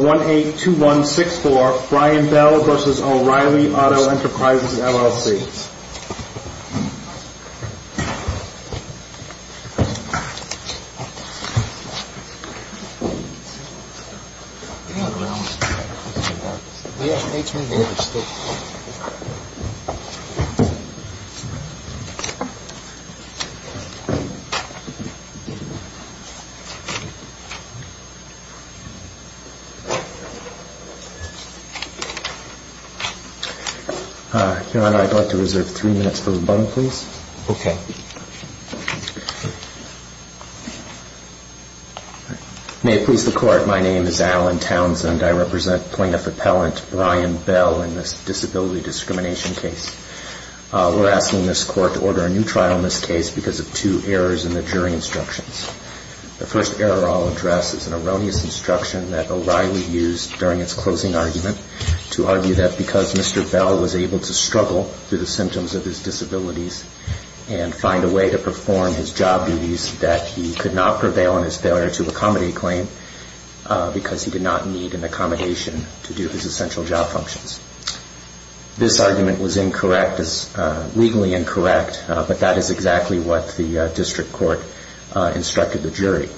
182164 Brian Bell v. O'Reilly Auto Enterprises, LLC May it please the Court, my name is Alan Townsend and I represent plaintiff appellant Brian Bell in this disability discrimination case. We are asking this court to order a new trial in this case because of two errors in the jury instructions. The first error I'll address is an erroneous instruction that O'Reilly used during its closing argument to argue that because Mr. Bell was able to struggle through the symptoms of his disabilities and find a way to perform his job duties that he could not prevail in his failure to accommodate claim because he did not need an accommodation to do his essential job functions. This argument was incorrect, legally incorrect, but that is exactly what the district court instructed the jury.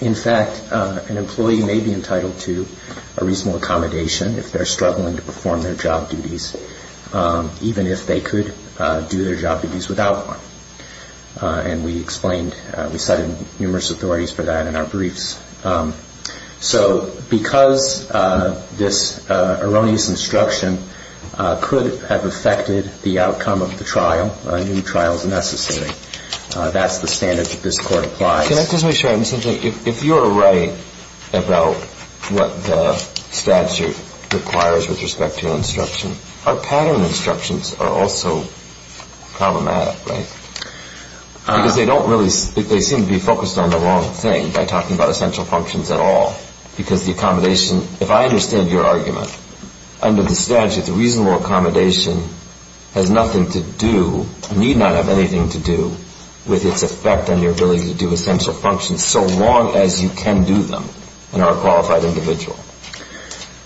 In fact, an employee may be entitled to a reasonable accommodation if they are struggling to perform their job duties even if they could do their job duties without one. And we explained, we cited numerous authorities for that in our briefs. So because this erroneous instruction could have affected the outcome of the trial, a new trial is necessary. That's the standard that this court applies. Can I just make sure, Mr. J. If you are right about what the statute requires with respect to instruction, our pattern instructions are also problematic, right? Because they don't really, they seem to be focused on the wrong thing by talking about essential functions at all. Because the accommodation, if I understand your argument, under the statute the reasonable accommodation has nothing to do, need not have anything to do with its effect on your ability to do essential functions so long as you can do them and are a qualified individual.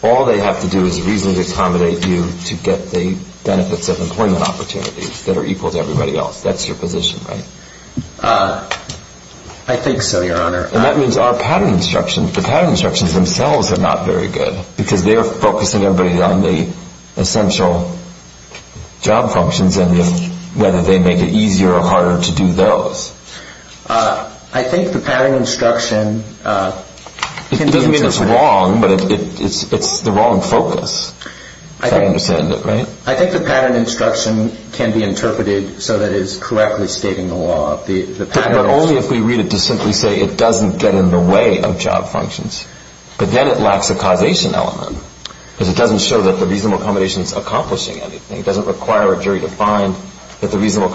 All they have to do is reasonably accommodate you to get the benefits of employment opportunities that are equal to everybody else. That's your position, right? I think so, Your Honor. And that means our pattern instructions, the pattern instructions themselves are not very good. Because they are focusing everybody on the essential job functions and whether they make it easier or harder to do those. I think the pattern instruction can be interpreted It doesn't mean it's wrong, but it's the wrong focus, if I understand it right. I think the pattern instruction can be interpreted so that it is correctly stating the law. But only if we read it to simply say it doesn't get in the way of job functions. But then that lacks a causation element. Because it doesn't show that the reasonable accommodation is accomplishing anything. It doesn't require a jury to find that the reasonable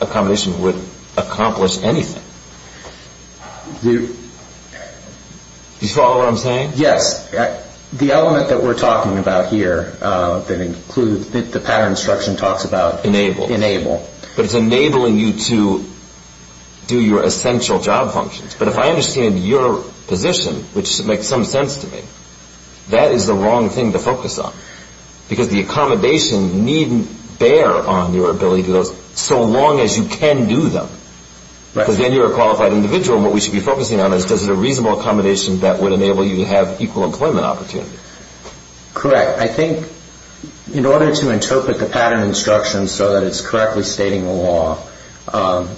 accommodation would accomplish anything. Do you follow what I'm saying? Yes. The element that we're talking about here that includes the pattern instruction talks about Enable. Enable. But it's enabling you to do your essential job functions. But if I understand your position, which makes some sense to me, that is the wrong thing to focus on. Because the accommodation needn't bear on your ability to do those so long as you can do them. Right. Because then you're a qualified individual. And what we should be focusing on is does it a reasonable accommodation that would enable you to have equal employment opportunity? Correct. I think in order to interpret the pattern instruction so that it's correctly stating the law,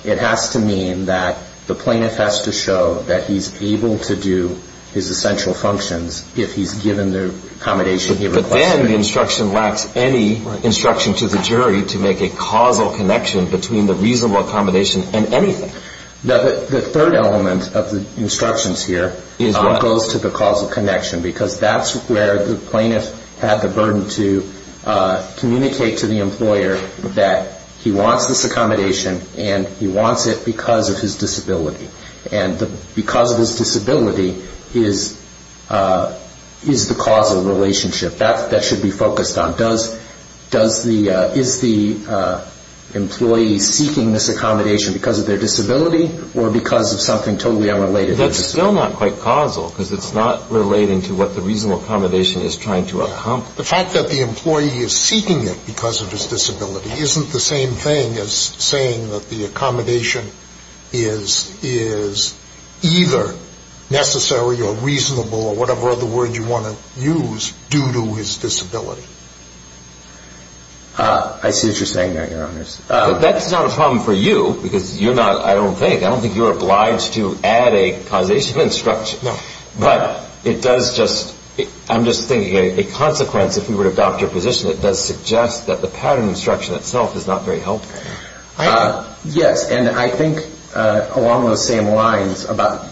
it has to mean that the plaintiff has to show that he's able to do his essential functions if he's given the accommodation he requested. But then the instruction lacks any instruction to the jury to make a causal connection between the reasonable accommodation and anything. The third element of the instructions here is what goes to the causal connection. Because that's where the plaintiff had the burden to communicate to the employer that he wants this accommodation and he wants it because of his disability. And because of his disability is the causal relationship. That should be focused on. Is the employee seeking this accommodation because of their disability or because of something totally unrelated? That's still not quite causal because it's not relating to what the reasonable accommodation is trying to accomplish. The fact that the employee is seeking it because of his disability isn't the same thing as saying that the accommodation is either necessary or reasonable or whatever other word you want to use due to his disability. I see what you're saying there, Your Honors. That's not a problem for you because you're not, I don't think, I don't think you're obliged to add a causation instruction. But it does just, I'm just thinking, a consequence if you were to adopt your position, it does suggest that the pattern instruction itself is not very helpful. Yes. And I think along those same lines about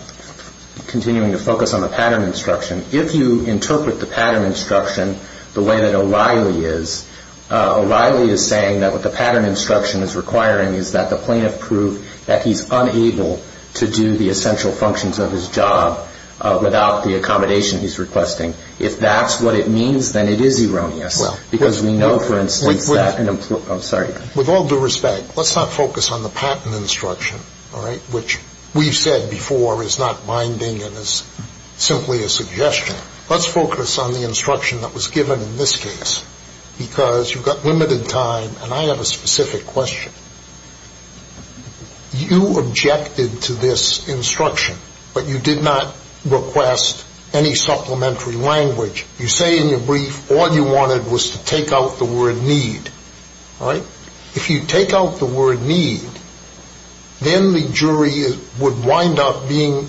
continuing to focus on the pattern instruction, if you interpret the pattern instruction the way that O'Reilly is, O'Reilly is saying that what the pattern instruction is requiring is that the plaintiff prove that he's unable to do the essential functions of his job without the accommodation he's requesting. If that's what it means, then it is erroneous because we know, for instance, that an employee – I'm sorry. With all due respect, let's not focus on the pattern instruction, all right, which we've said before is not binding and is simply a suggestion. Let's focus on the instruction that was given in this case because you've got limited time and I have a specific question. You objected to this instruction, but you did not request any supplementary language. You say in your brief all you wanted was to take out the word need, all right? If you take out the word need, then the jury would wind up being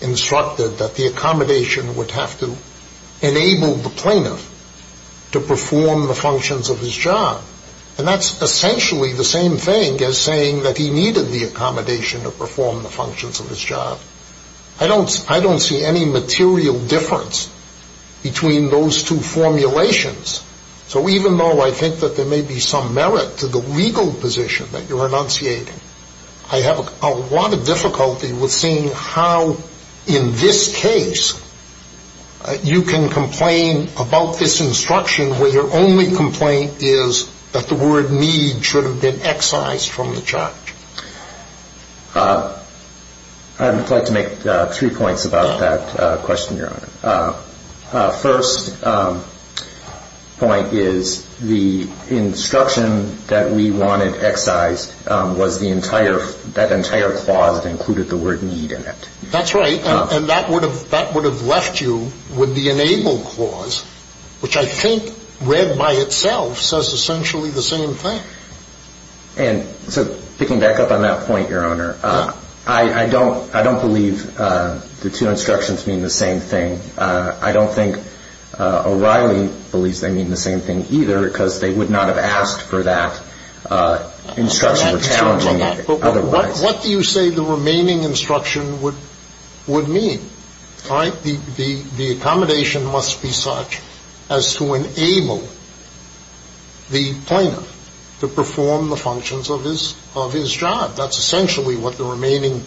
instructed that the accommodation would have to enable the plaintiff to perform the functions of his job, and that's essentially the same thing as saying that he needed the accommodation to perform the functions of his job. I don't see any material difference between those two formulations, so even though I think that there may be some merit to the legal position that you're enunciating, I have a lot of difficulty with seeing how in this case you can complain about this instruction where your only complaint is that the word need should have been excised from the charge. I would like to make three points about that question, Your Honor. First point is the instruction that we wanted excised was the entire, that entire clause that included the word need in it. That's right, and that would have left you with the enable clause, which I think read by itself says essentially the same thing. And so picking back up on that point, Your Honor, I don't believe the two instructions mean the same thing. I don't think O'Reilly believes they mean the same thing either because they would not have asked for that instruction or challenge otherwise. What do you say the remaining instruction would mean? The accommodation must be such as to enable the plaintiff to perform the functions of his job. That's essentially what the remaining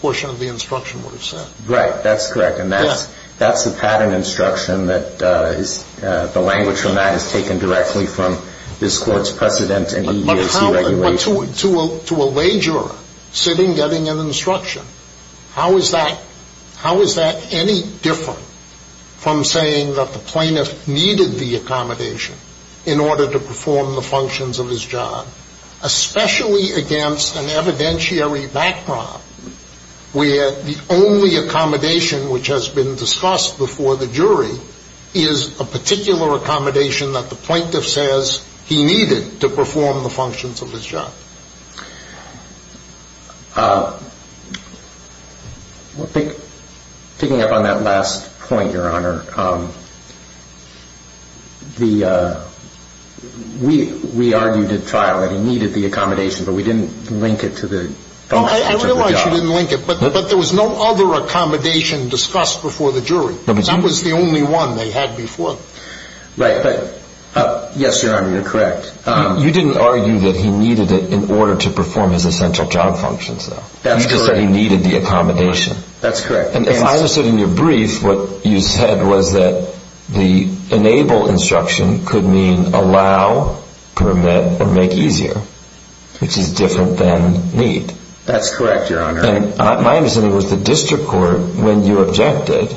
portion of the instruction would have said. Right, that's correct, and that's the pattern instruction that is, the language from that is taken directly from this Court's precedent and EEOC regulations. But to a lay juror sitting getting an instruction, how is that, how is that any different from saying that the plaintiff needed the accommodation in order to perform the functions of his job, especially against an evidentiary background where the only accommodation which has been discussed before the jury is a particular accommodation that the plaintiff says he needed to perform the functions of his job? Picking up on that last point, Your Honor, the, we argued at trial that he needed the accommodation, but we didn't link it to the functions of the job. I realize you didn't link it, but there was no other accommodation discussed before the jury. That was the only one they had before. Right, but, yes, Your Honor, you're correct. You didn't argue that he needed it in order to perform his essential job functions, though. That's correct. You just said he needed the accommodation. That's correct. And if I understood in your brief what you said was that the enable instruction could mean allow, permit, or make easier, which is different than need. That's correct, Your Honor. My understanding was the district court, when you objected,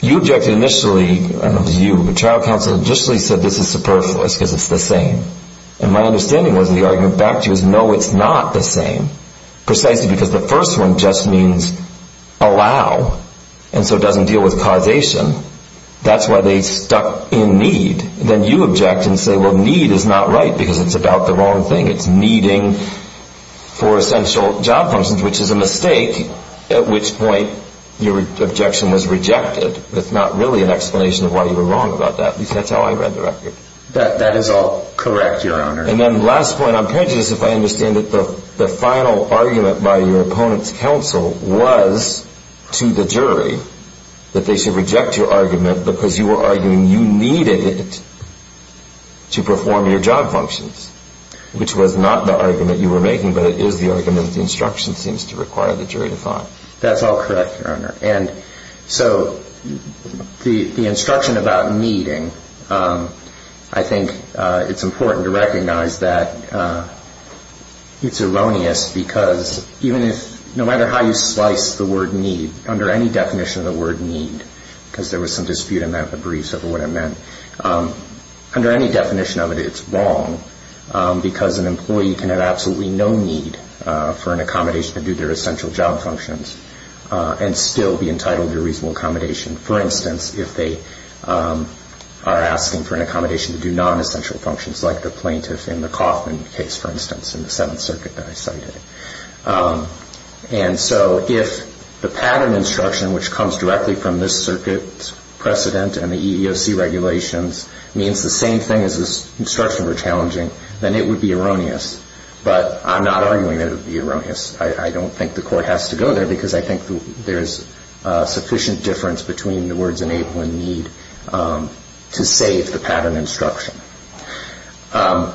you objected initially, I don't know if it was you, but trial counsel initially said this is superfluous because it's the same. And my understanding was the argument back to you is no, it's not the same, precisely because the first one just means allow, and so it doesn't deal with causation. That's why they stuck in need. Then you object and say, well, need is not right because it's about the wrong thing. It's needing for essential job functions, which is a mistake, at which point your objection was rejected with not really an explanation of why you were wrong about that. At least that's how I read the record. That is all correct, Your Honor. And then last point, I'm curious if I understand that the final argument by your opponent's counsel was to the jury that they should reject your argument because you were arguing you needed it to perform your job functions, which was not the argument you were making, but it is the argument that the instruction seems to require the jury to find. That's all correct, Your Honor. And so the instruction about needing, I think it's important to recognize that it's erroneous because even if, no matter how you slice the word need, under any definition of the word need, because there was some dispute about the briefs over what it meant, under any definition of it, it's wrong because an employee can have absolutely no need for an accommodation to do their essential job functions and still be entitled to a reasonable accommodation, for instance, if they are asking for an accommodation to do nonessential functions like the plaintiff in the Kaufman case, for instance, in the Seventh Circuit that I cited. And so if the pattern instruction, which comes directly from this Circuit's precedent and the EEOC regulations, means the same thing as this instruction were challenging, then it would be erroneous. But I'm not arguing that it would be erroneous. I don't think the Court has to go there because I think there is sufficient difference between the words enable and need to save the pattern instruction. The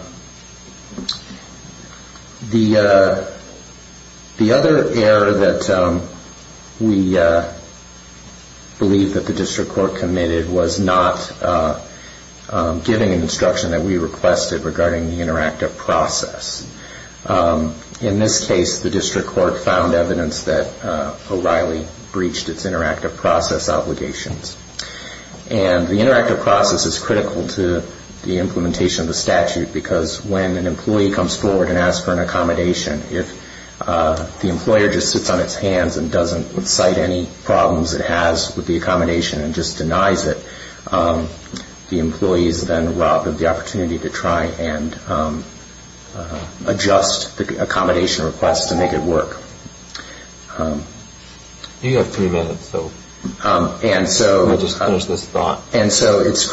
other error that we believe that the District Court committed was not giving an instruction that we requested regarding the interactive process. In this case, the District Court found evidence that O'Reilly breached its interactive process obligations. And the implementation of the statute, because when an employee comes forward and asks for an accommodation, if the employer just sits on its hands and doesn't cite any problems it has with the accommodation and just denies it, the employees then rob of the opportunity to try and adjust the accommodation request to make it work. And so it's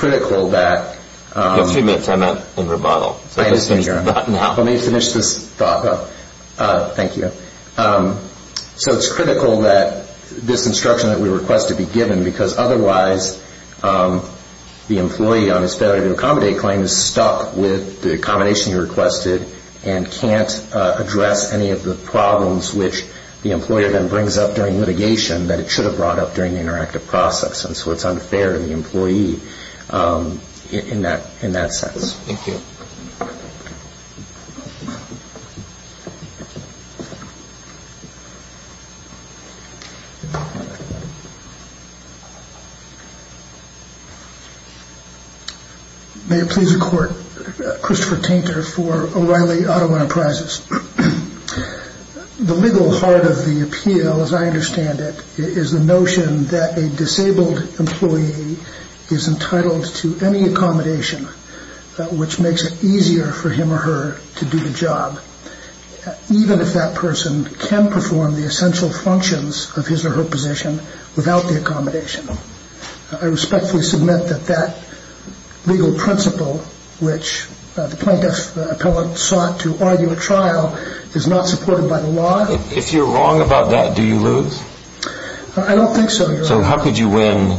critical that this instruction that we request to be given, because otherwise the employee on his failure to accommodate claim is stuck with the accommodation he requested and can't address any of the problems which the employer then brings up during litigation that it should have brought up during the interactive process. And so it's unfair to the employee in that sense. Thank you. May it please the Court, Christopher Tainter for O'Reilly Auto Enterprises. The legal heart of the appeal, as I understand it, is the notion that a disabled employee is entitled to any accommodation which makes it easier for him or her to do the job, even if that person can perform the essential functions of his or her position without the accommodation. I respectfully submit that that legal principle which the plaintiff, the appellant, sought to argue at trial is not supported by the law. If you're wrong about that, do you lose? I don't think so, Your Honor. So how could you win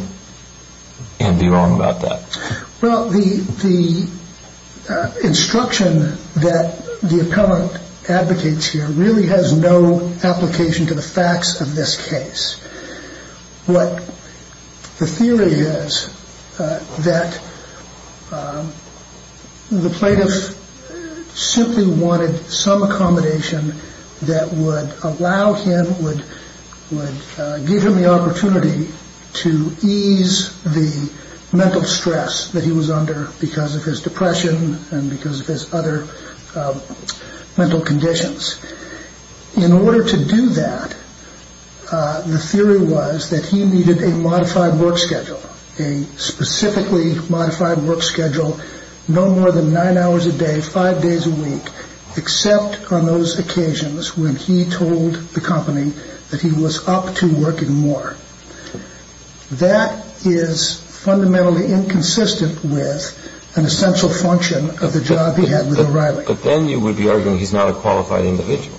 and be wrong about that? Well, the instruction that the appellant advocates here really has no application to the facts of this case. What the theory is that the plaintiff simply wanted some accommodation that would allow him, would give him the opportunity to ease the mental stress that he was under because of his depression and because of his other mental conditions. In order to do that, the theory was that he needed a modified work schedule, a specifically modified work schedule no more than nine hours a day, five days a week, except on those occasions when he told the company that he was up to working more. That is fundamentally inconsistent with an essential function of the job he had with O'Reilly. But then you would be arguing he's not a qualified individual.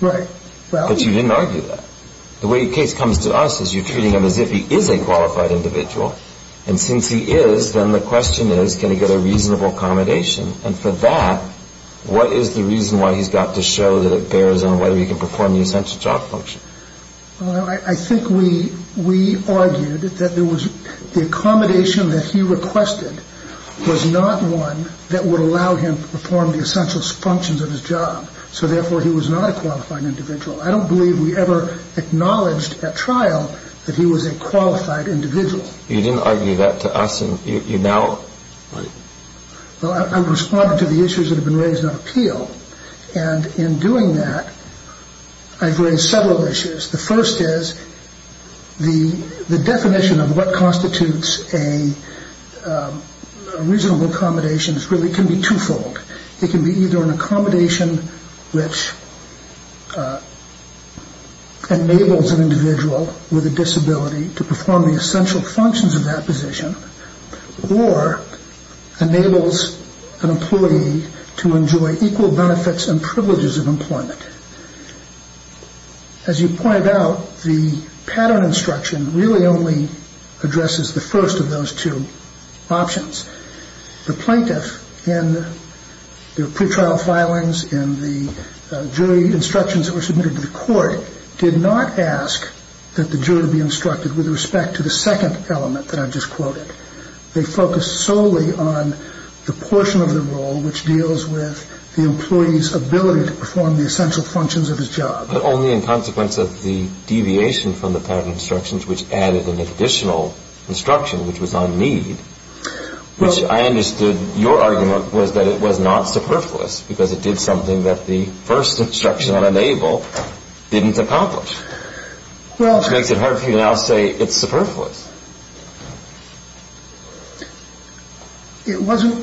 Right. But you didn't argue that. The way the case comes to us is you're treating him as if he was a qualified individual. And since he is, then the question is, can he get a reasonable accommodation? And for that, what is the reason why he's got to show that it bears on whether he can perform the essential job function? I think we argued that the accommodation that he requested was not one that would allow him to perform the essential functions of his job. So therefore, he was not a qualified individual. I don't believe we ever acknowledged at trial that he was a qualified individual. You didn't argue that to us, and you now... Well, I'm responding to the issues that have been raised on appeal. And in doing that, I've raised several issues. The first is the definition of what constitutes a reasonable accommodation really can be twofold. It can be either an accommodation which enables an employee to perform the essential functions of that position, or enables an employee to enjoy equal benefits and privileges of employment. As you pointed out, the pattern instruction really only addresses the first of those two options. The plaintiff in their pretrial filings and the jury instructions that were submitted to the court did not ask that the jury be an element that I've just quoted. They focused solely on the portion of the role which deals with the employee's ability to perform the essential functions of his job. But only in consequence of the deviation from the pattern instructions which added an additional instruction which was on need, which I understood your argument was that it was not superfluous because it did something that the first instruction on enable didn't accomplish. Which makes it I'll say it's superfluous. It wasn't.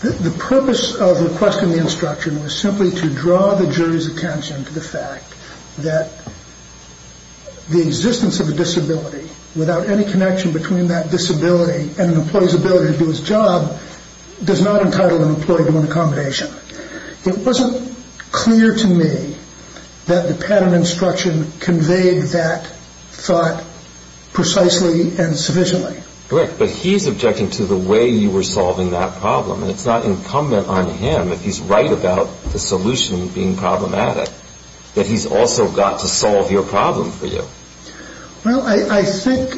The purpose of the question in the instruction was simply to draw the jury's attention to the fact that the existence of a disability without any connection between that disability and an employee's ability to do his job does not entitle an employee to an accommodation. It wasn't clear to me that the pattern instruction conveyed that thought precisely and sufficiently. Correct. But he's objecting to the way you were solving that problem. And it's not incumbent on him if he's right about the solution being problematic that he's also got to solve your problem for you. Well, I think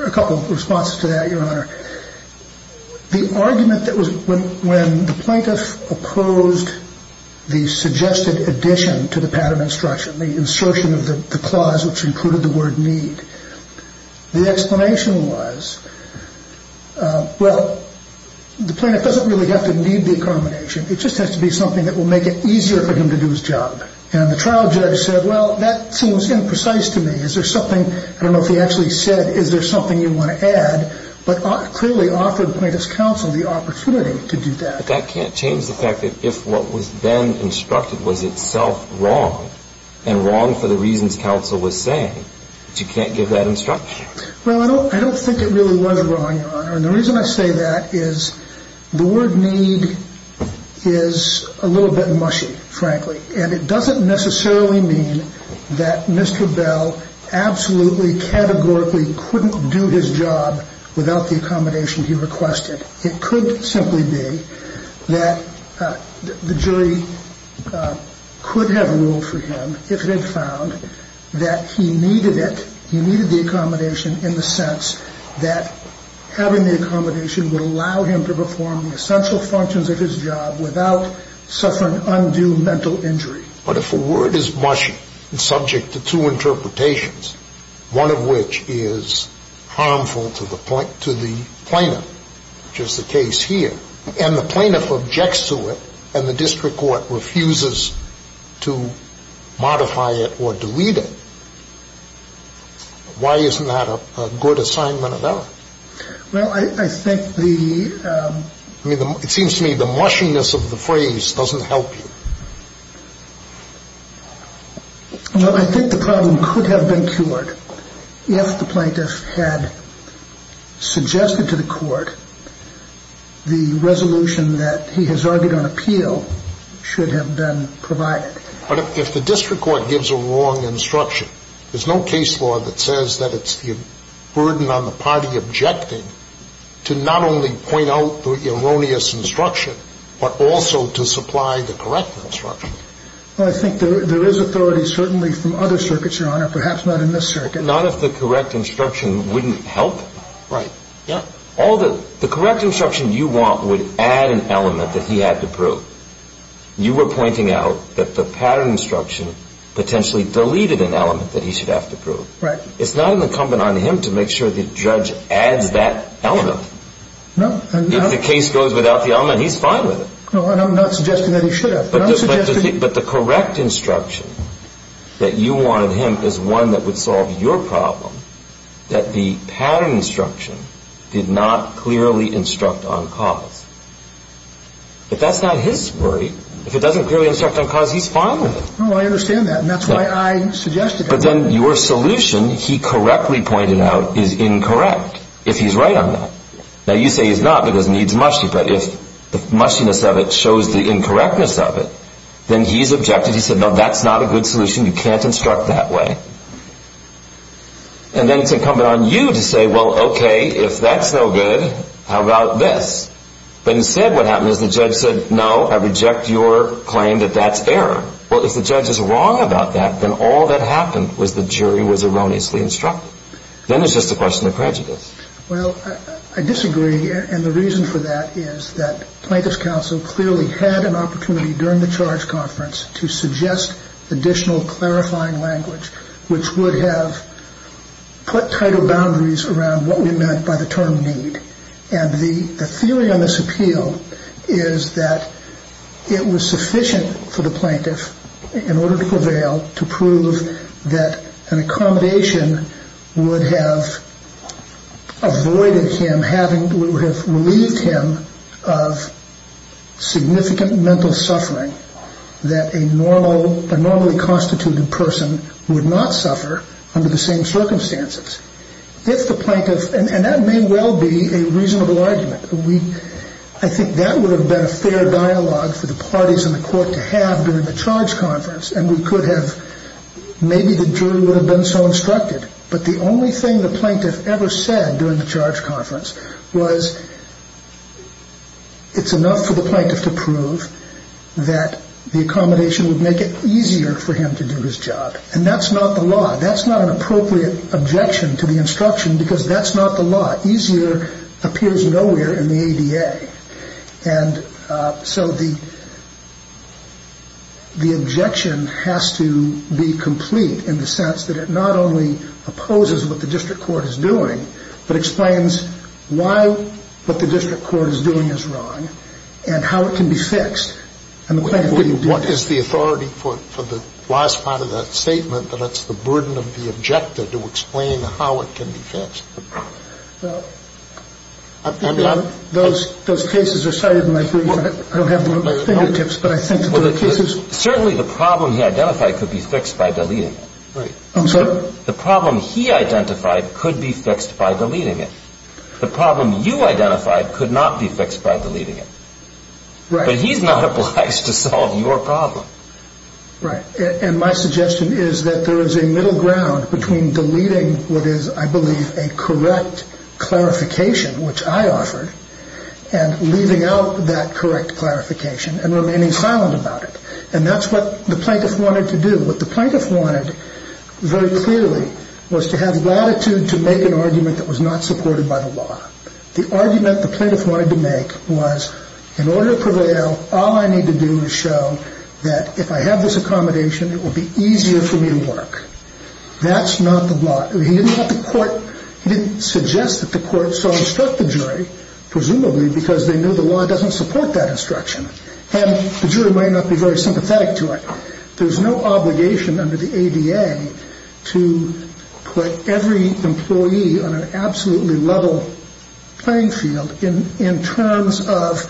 a couple of responses to that, your honor. The argument that was when the plaintiff opposed the suggested addition to the pattern instruction, the insertion of the clause which included the word need, the explanation was, well, the plaintiff doesn't really have to need the accommodation. It just has to be something that will make it easier for him to do his job. And the trial judge said, well, that seems imprecise to me. Is there something, I don't know if he actually said, is there something you want to add? But clearly offered the plaintiff's counsel the opportunity to do that. But that can't change the fact that if what was then instructed was itself wrong and wrong for the reasons counsel was saying, you can't give that instruction. Well, I don't think it really was wrong, your honor. And the reason I say that is the word need is a little bit mushy, frankly. And it doesn't necessarily mean that Mr. Bell absolutely categorically couldn't do his job without the accommodation he requested. It could simply be that the jury could have ruled for him if it had found that he needed it, he needed the accommodation in the sense that having the accommodation would allow him to perform the essential functions of his job without suffering undue mental injury. But if a word is mushy and subject to two interpretations, one of which is harmful to the plaintiff, which is the case here, and the plaintiff objects to it and the district court refuses to modify it or delete it, why isn't that a good assignment of ours? Well, I think the – I mean, it seems to me the mushiness of the phrase doesn't help you. Well, I think the problem could have been cured if the plaintiff had suggested to the court the resolution that he has argued on appeal should have been provided. But if the district court gives a wrong instruction, there's no case law that says that it's the burden on the party objecting to not only point out the erroneous instruction, but also to supply the correct instruction. Well, I think there is authority certainly from other circuits, your honor, perhaps not in this circuit. Not if the correct instruction wouldn't help. Right. Yeah. All the – the correct instruction you want would add an element that he had to prove. You were pointing out that the pattern instruction potentially deleted an element that he should have to prove. Right. It's not incumbent on him to make sure the judge adds that element. No. If the case goes without the element, he's fine with it. No, I'm not suggesting that he should have. But the correct instruction that you wanted him is one that would solve your problem, that the pattern instruction did not clearly instruct on cause. If that's not his worry, if it doesn't clearly instruct on cause, he's fine with it. No, I understand that. And that's why I suggested it. But then your solution, he correctly pointed out, is incorrect, if he's right on that. Now, you say he's not because it needs musty. But if the mustiness of it shows the incorrectness of it, then he's objected. He said, no, that's not a good solution. You can't instruct that way. And then it's incumbent on you to say, well, OK, if that's no good, how about this? But instead, what happened is the judge said, no, I reject your claim that that's error. Well, if the judge is wrong about that, then all that happened was the jury was erroneously instructed. Then it's just a question of prejudice. Well, I disagree. And the reason for that is that plaintiff's counsel clearly had an opportunity during the charge conference to suggest additional clarifying language, which would have put tighter boundaries around what we meant by the term need. And the theory on this appeal is that it was sufficient for the plaintiff, in order to prevail, to prove that an accommodation would have avoided him, would have relieved him of significant mental suffering that a normally constituted person would not suffer under the same circumstances. If the plaintiff, and that may well be a reasonable argument. I think that would have been a fair dialogue for the parties in the court to have during the charge conference. And we could have, maybe the jury would have been so instructed. But the only thing the plaintiff ever said during the charge conference was it's enough for the plaintiff to prove that the accommodation would make it easier for him to do his job. And that's not the law. That's not an appropriate objection to the instruction because that's not the law. Easier appears nowhere in the ADA. And so the objection has to be complete in the sense that it not only opposes what the district court is doing, but explains why what the district court is doing is wrong and how it can be fixed. And the plaintiff didn't do that. What is the authority for the last part of that statement that it's the burden of the objector to explain how it can be fixed? Well, those cases are cited in my brief. I don't have the fingertips, but I think the cases... Certainly the problem he identified could be fixed by deleting it. I'm sorry? The problem he identified could be fixed by deleting it. The problem you identified could not be fixed by deleting it. But he's not obliged to solve your problem. Right. And my suggestion is that there is a middle ground between deleting what is, I believe, a correct clarification, which I offered, and leaving out that correct clarification and remaining silent about it. And that's what the plaintiff wanted to do. What the plaintiff wanted very clearly was to have latitude to make an argument that was not supported by the law. So all I need to do is show that if I have this accommodation, it will be easier for me to work. That's not the law. He didn't have the court... He didn't suggest that the court so instruct the jury, presumably, because they knew the law doesn't support that instruction. And the jury might not be very sympathetic to it. There's no obligation under the ADA to put every employee on an absolutely level playing field in terms of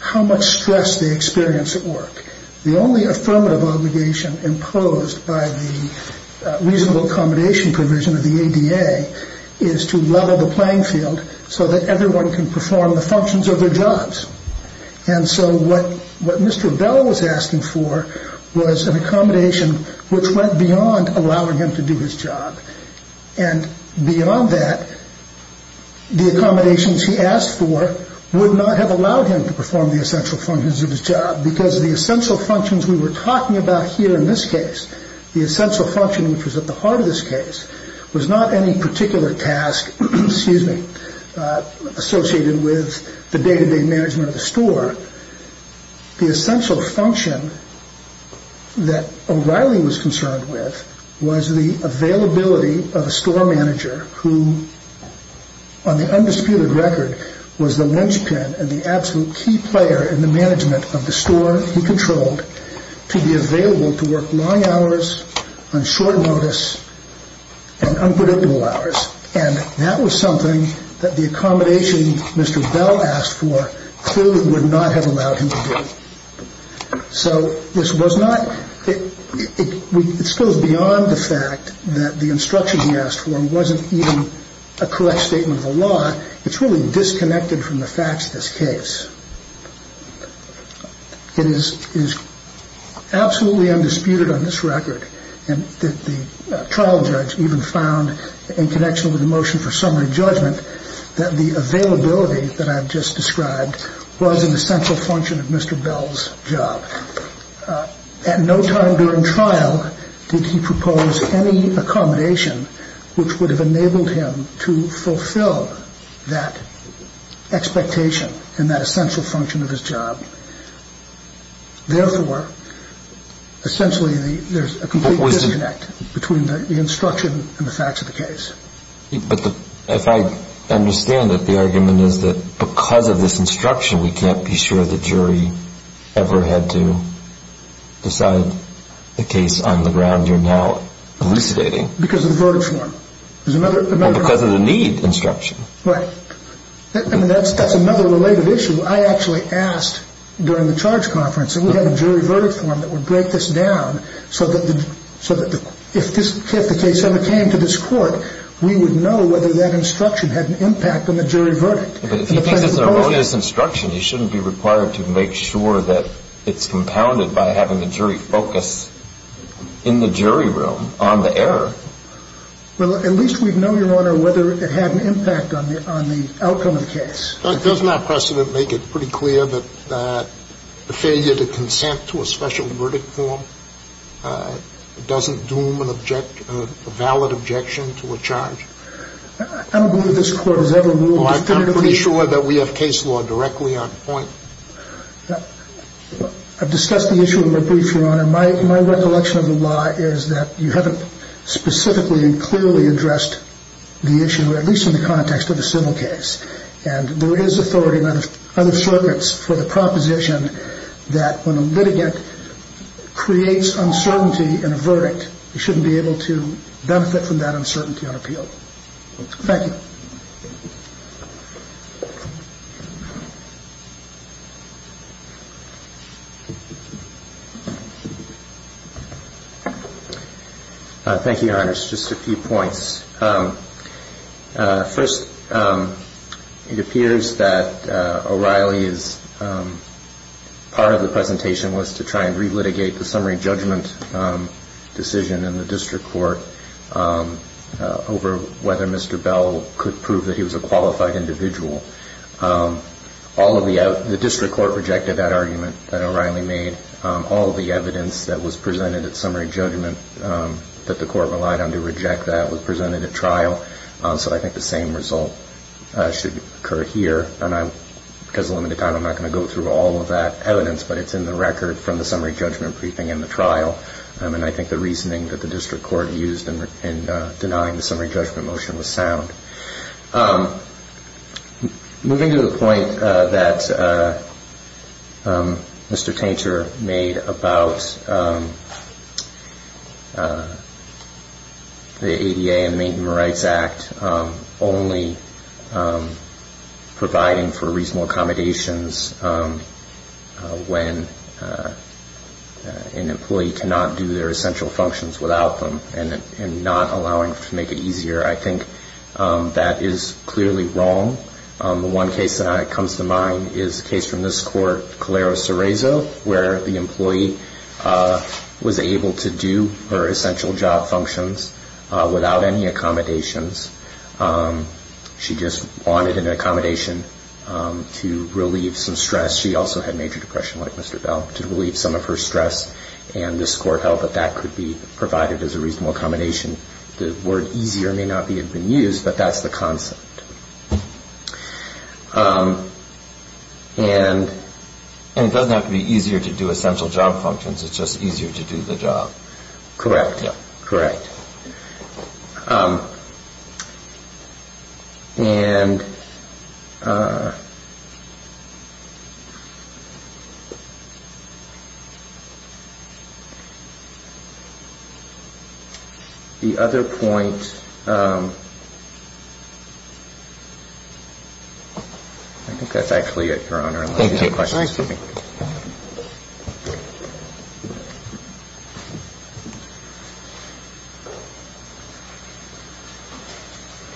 how much stress they experience at work. The only affirmative obligation imposed by the reasonable accommodation provision of the ADA is to level the playing field so that everyone can perform the functions of their jobs. And so what Mr. Bell was asking for was an accommodation which went beyond allowing him to do his job. And beyond that, the accommodations he asked for would not have allowed him to perform the essential functions of his job because the essential functions we were talking about here in this case, the essential function which was at the heart of this case, was not any particular task associated with the day-to-day management of the store. The essential function that O'Reilly was concerned with was the availability of a store manager who, on the undisputed record, was the linchpin and the absolute key player in the management of the store he controlled to be available to work long hours on short notice and unpredictable hours. And that was something that the accommodation Mr. Bell asked for clearly would not have allowed him to do. So this was not – it goes beyond the fact that the instruction he asked for wasn't even a correct statement of the law. It's really disconnected from the facts of this case. It is absolutely undisputed on this record that the trial judge even found, in connection with the motion for summary judgment, that the availability that I've just described was an essential function of Mr. Bell's job. At no time during trial did he propose any accommodation which would have enabled him to fulfill that expectation and that essential function of his job. Therefore, essentially there's a complete disconnect between the instruction and the facts of the case. But if I understand it, the argument is that because of this instruction we can't be sure the jury ever had to decide the case on the ground you're now elucidating. Because of the verdict form. Or because of the need instruction. Right. I mean, that's another related issue. I actually asked during the charge conference, and we had a jury verdict form that would break this down, so that if the case ever came to this court, we would know whether that instruction had an impact on the jury verdict. But if he thinks it's an erroneous instruction, he shouldn't be required to make sure that it's compounded by having the jury focus in the jury room on the error. Well, at least we'd know, Your Honor, whether it had an impact on the outcome of the case. Doesn't our precedent make it pretty clear that the failure to consent to a special verdict form doesn't doom a valid objection to a charge? I don't believe this Court has ever ruled definitively. Well, I'm pretty sure that we have case law directly on point. I've discussed the issue in my brief, Your Honor. My recollection of the law is that you haven't specifically and clearly addressed the issue, at least in the context of a civil case. And there is authority in other circuits for the proposition that when a litigant creates uncertainty in a verdict, he shouldn't be able to benefit from that uncertainty on appeal. Thank you. Thank you, Your Honor. Just a few points. First, it appears that O'Reilly's part of the presentation was to try and relitigate the summary judgment decision in the district court over whether Mr. Bell could prove that he was a qualified individual. The district court rejected that argument that O'Reilly made. All of the evidence that was presented at summary judgment that the court relied on to reject that was presented at trial, so I think the same result should occur here. And because of limited time, I'm not going to go through all of that evidence, but it's in the record from the summary judgment briefing and the trial. And I think the reasoning that the district court used in denying the summary judgment motion was sound. Moving to the point that Mr. Tainter made about the ADA and Maintenance Rights Act only providing for reasonable accommodations when an employee cannot do their essential functions without them and not allowing to make it easier, I think that is clearly wrong. The one case that comes to mind is a case from this court, Calero-Cerezo, where the employee was able to do her essential job functions without any accommodations. She just wanted an accommodation to relieve some stress. She also had major depression like Mr. Bell to relieve some of her stress, and this court held that that could be provided as a reasonable accommodation. The word easier may not have been used, but that's the concept. And it doesn't have to be easier to do essential job functions, it's just easier to do the job. Correct. Correct. The other point... I think that's actually it, Your Honor, unless you have questions. Thank you.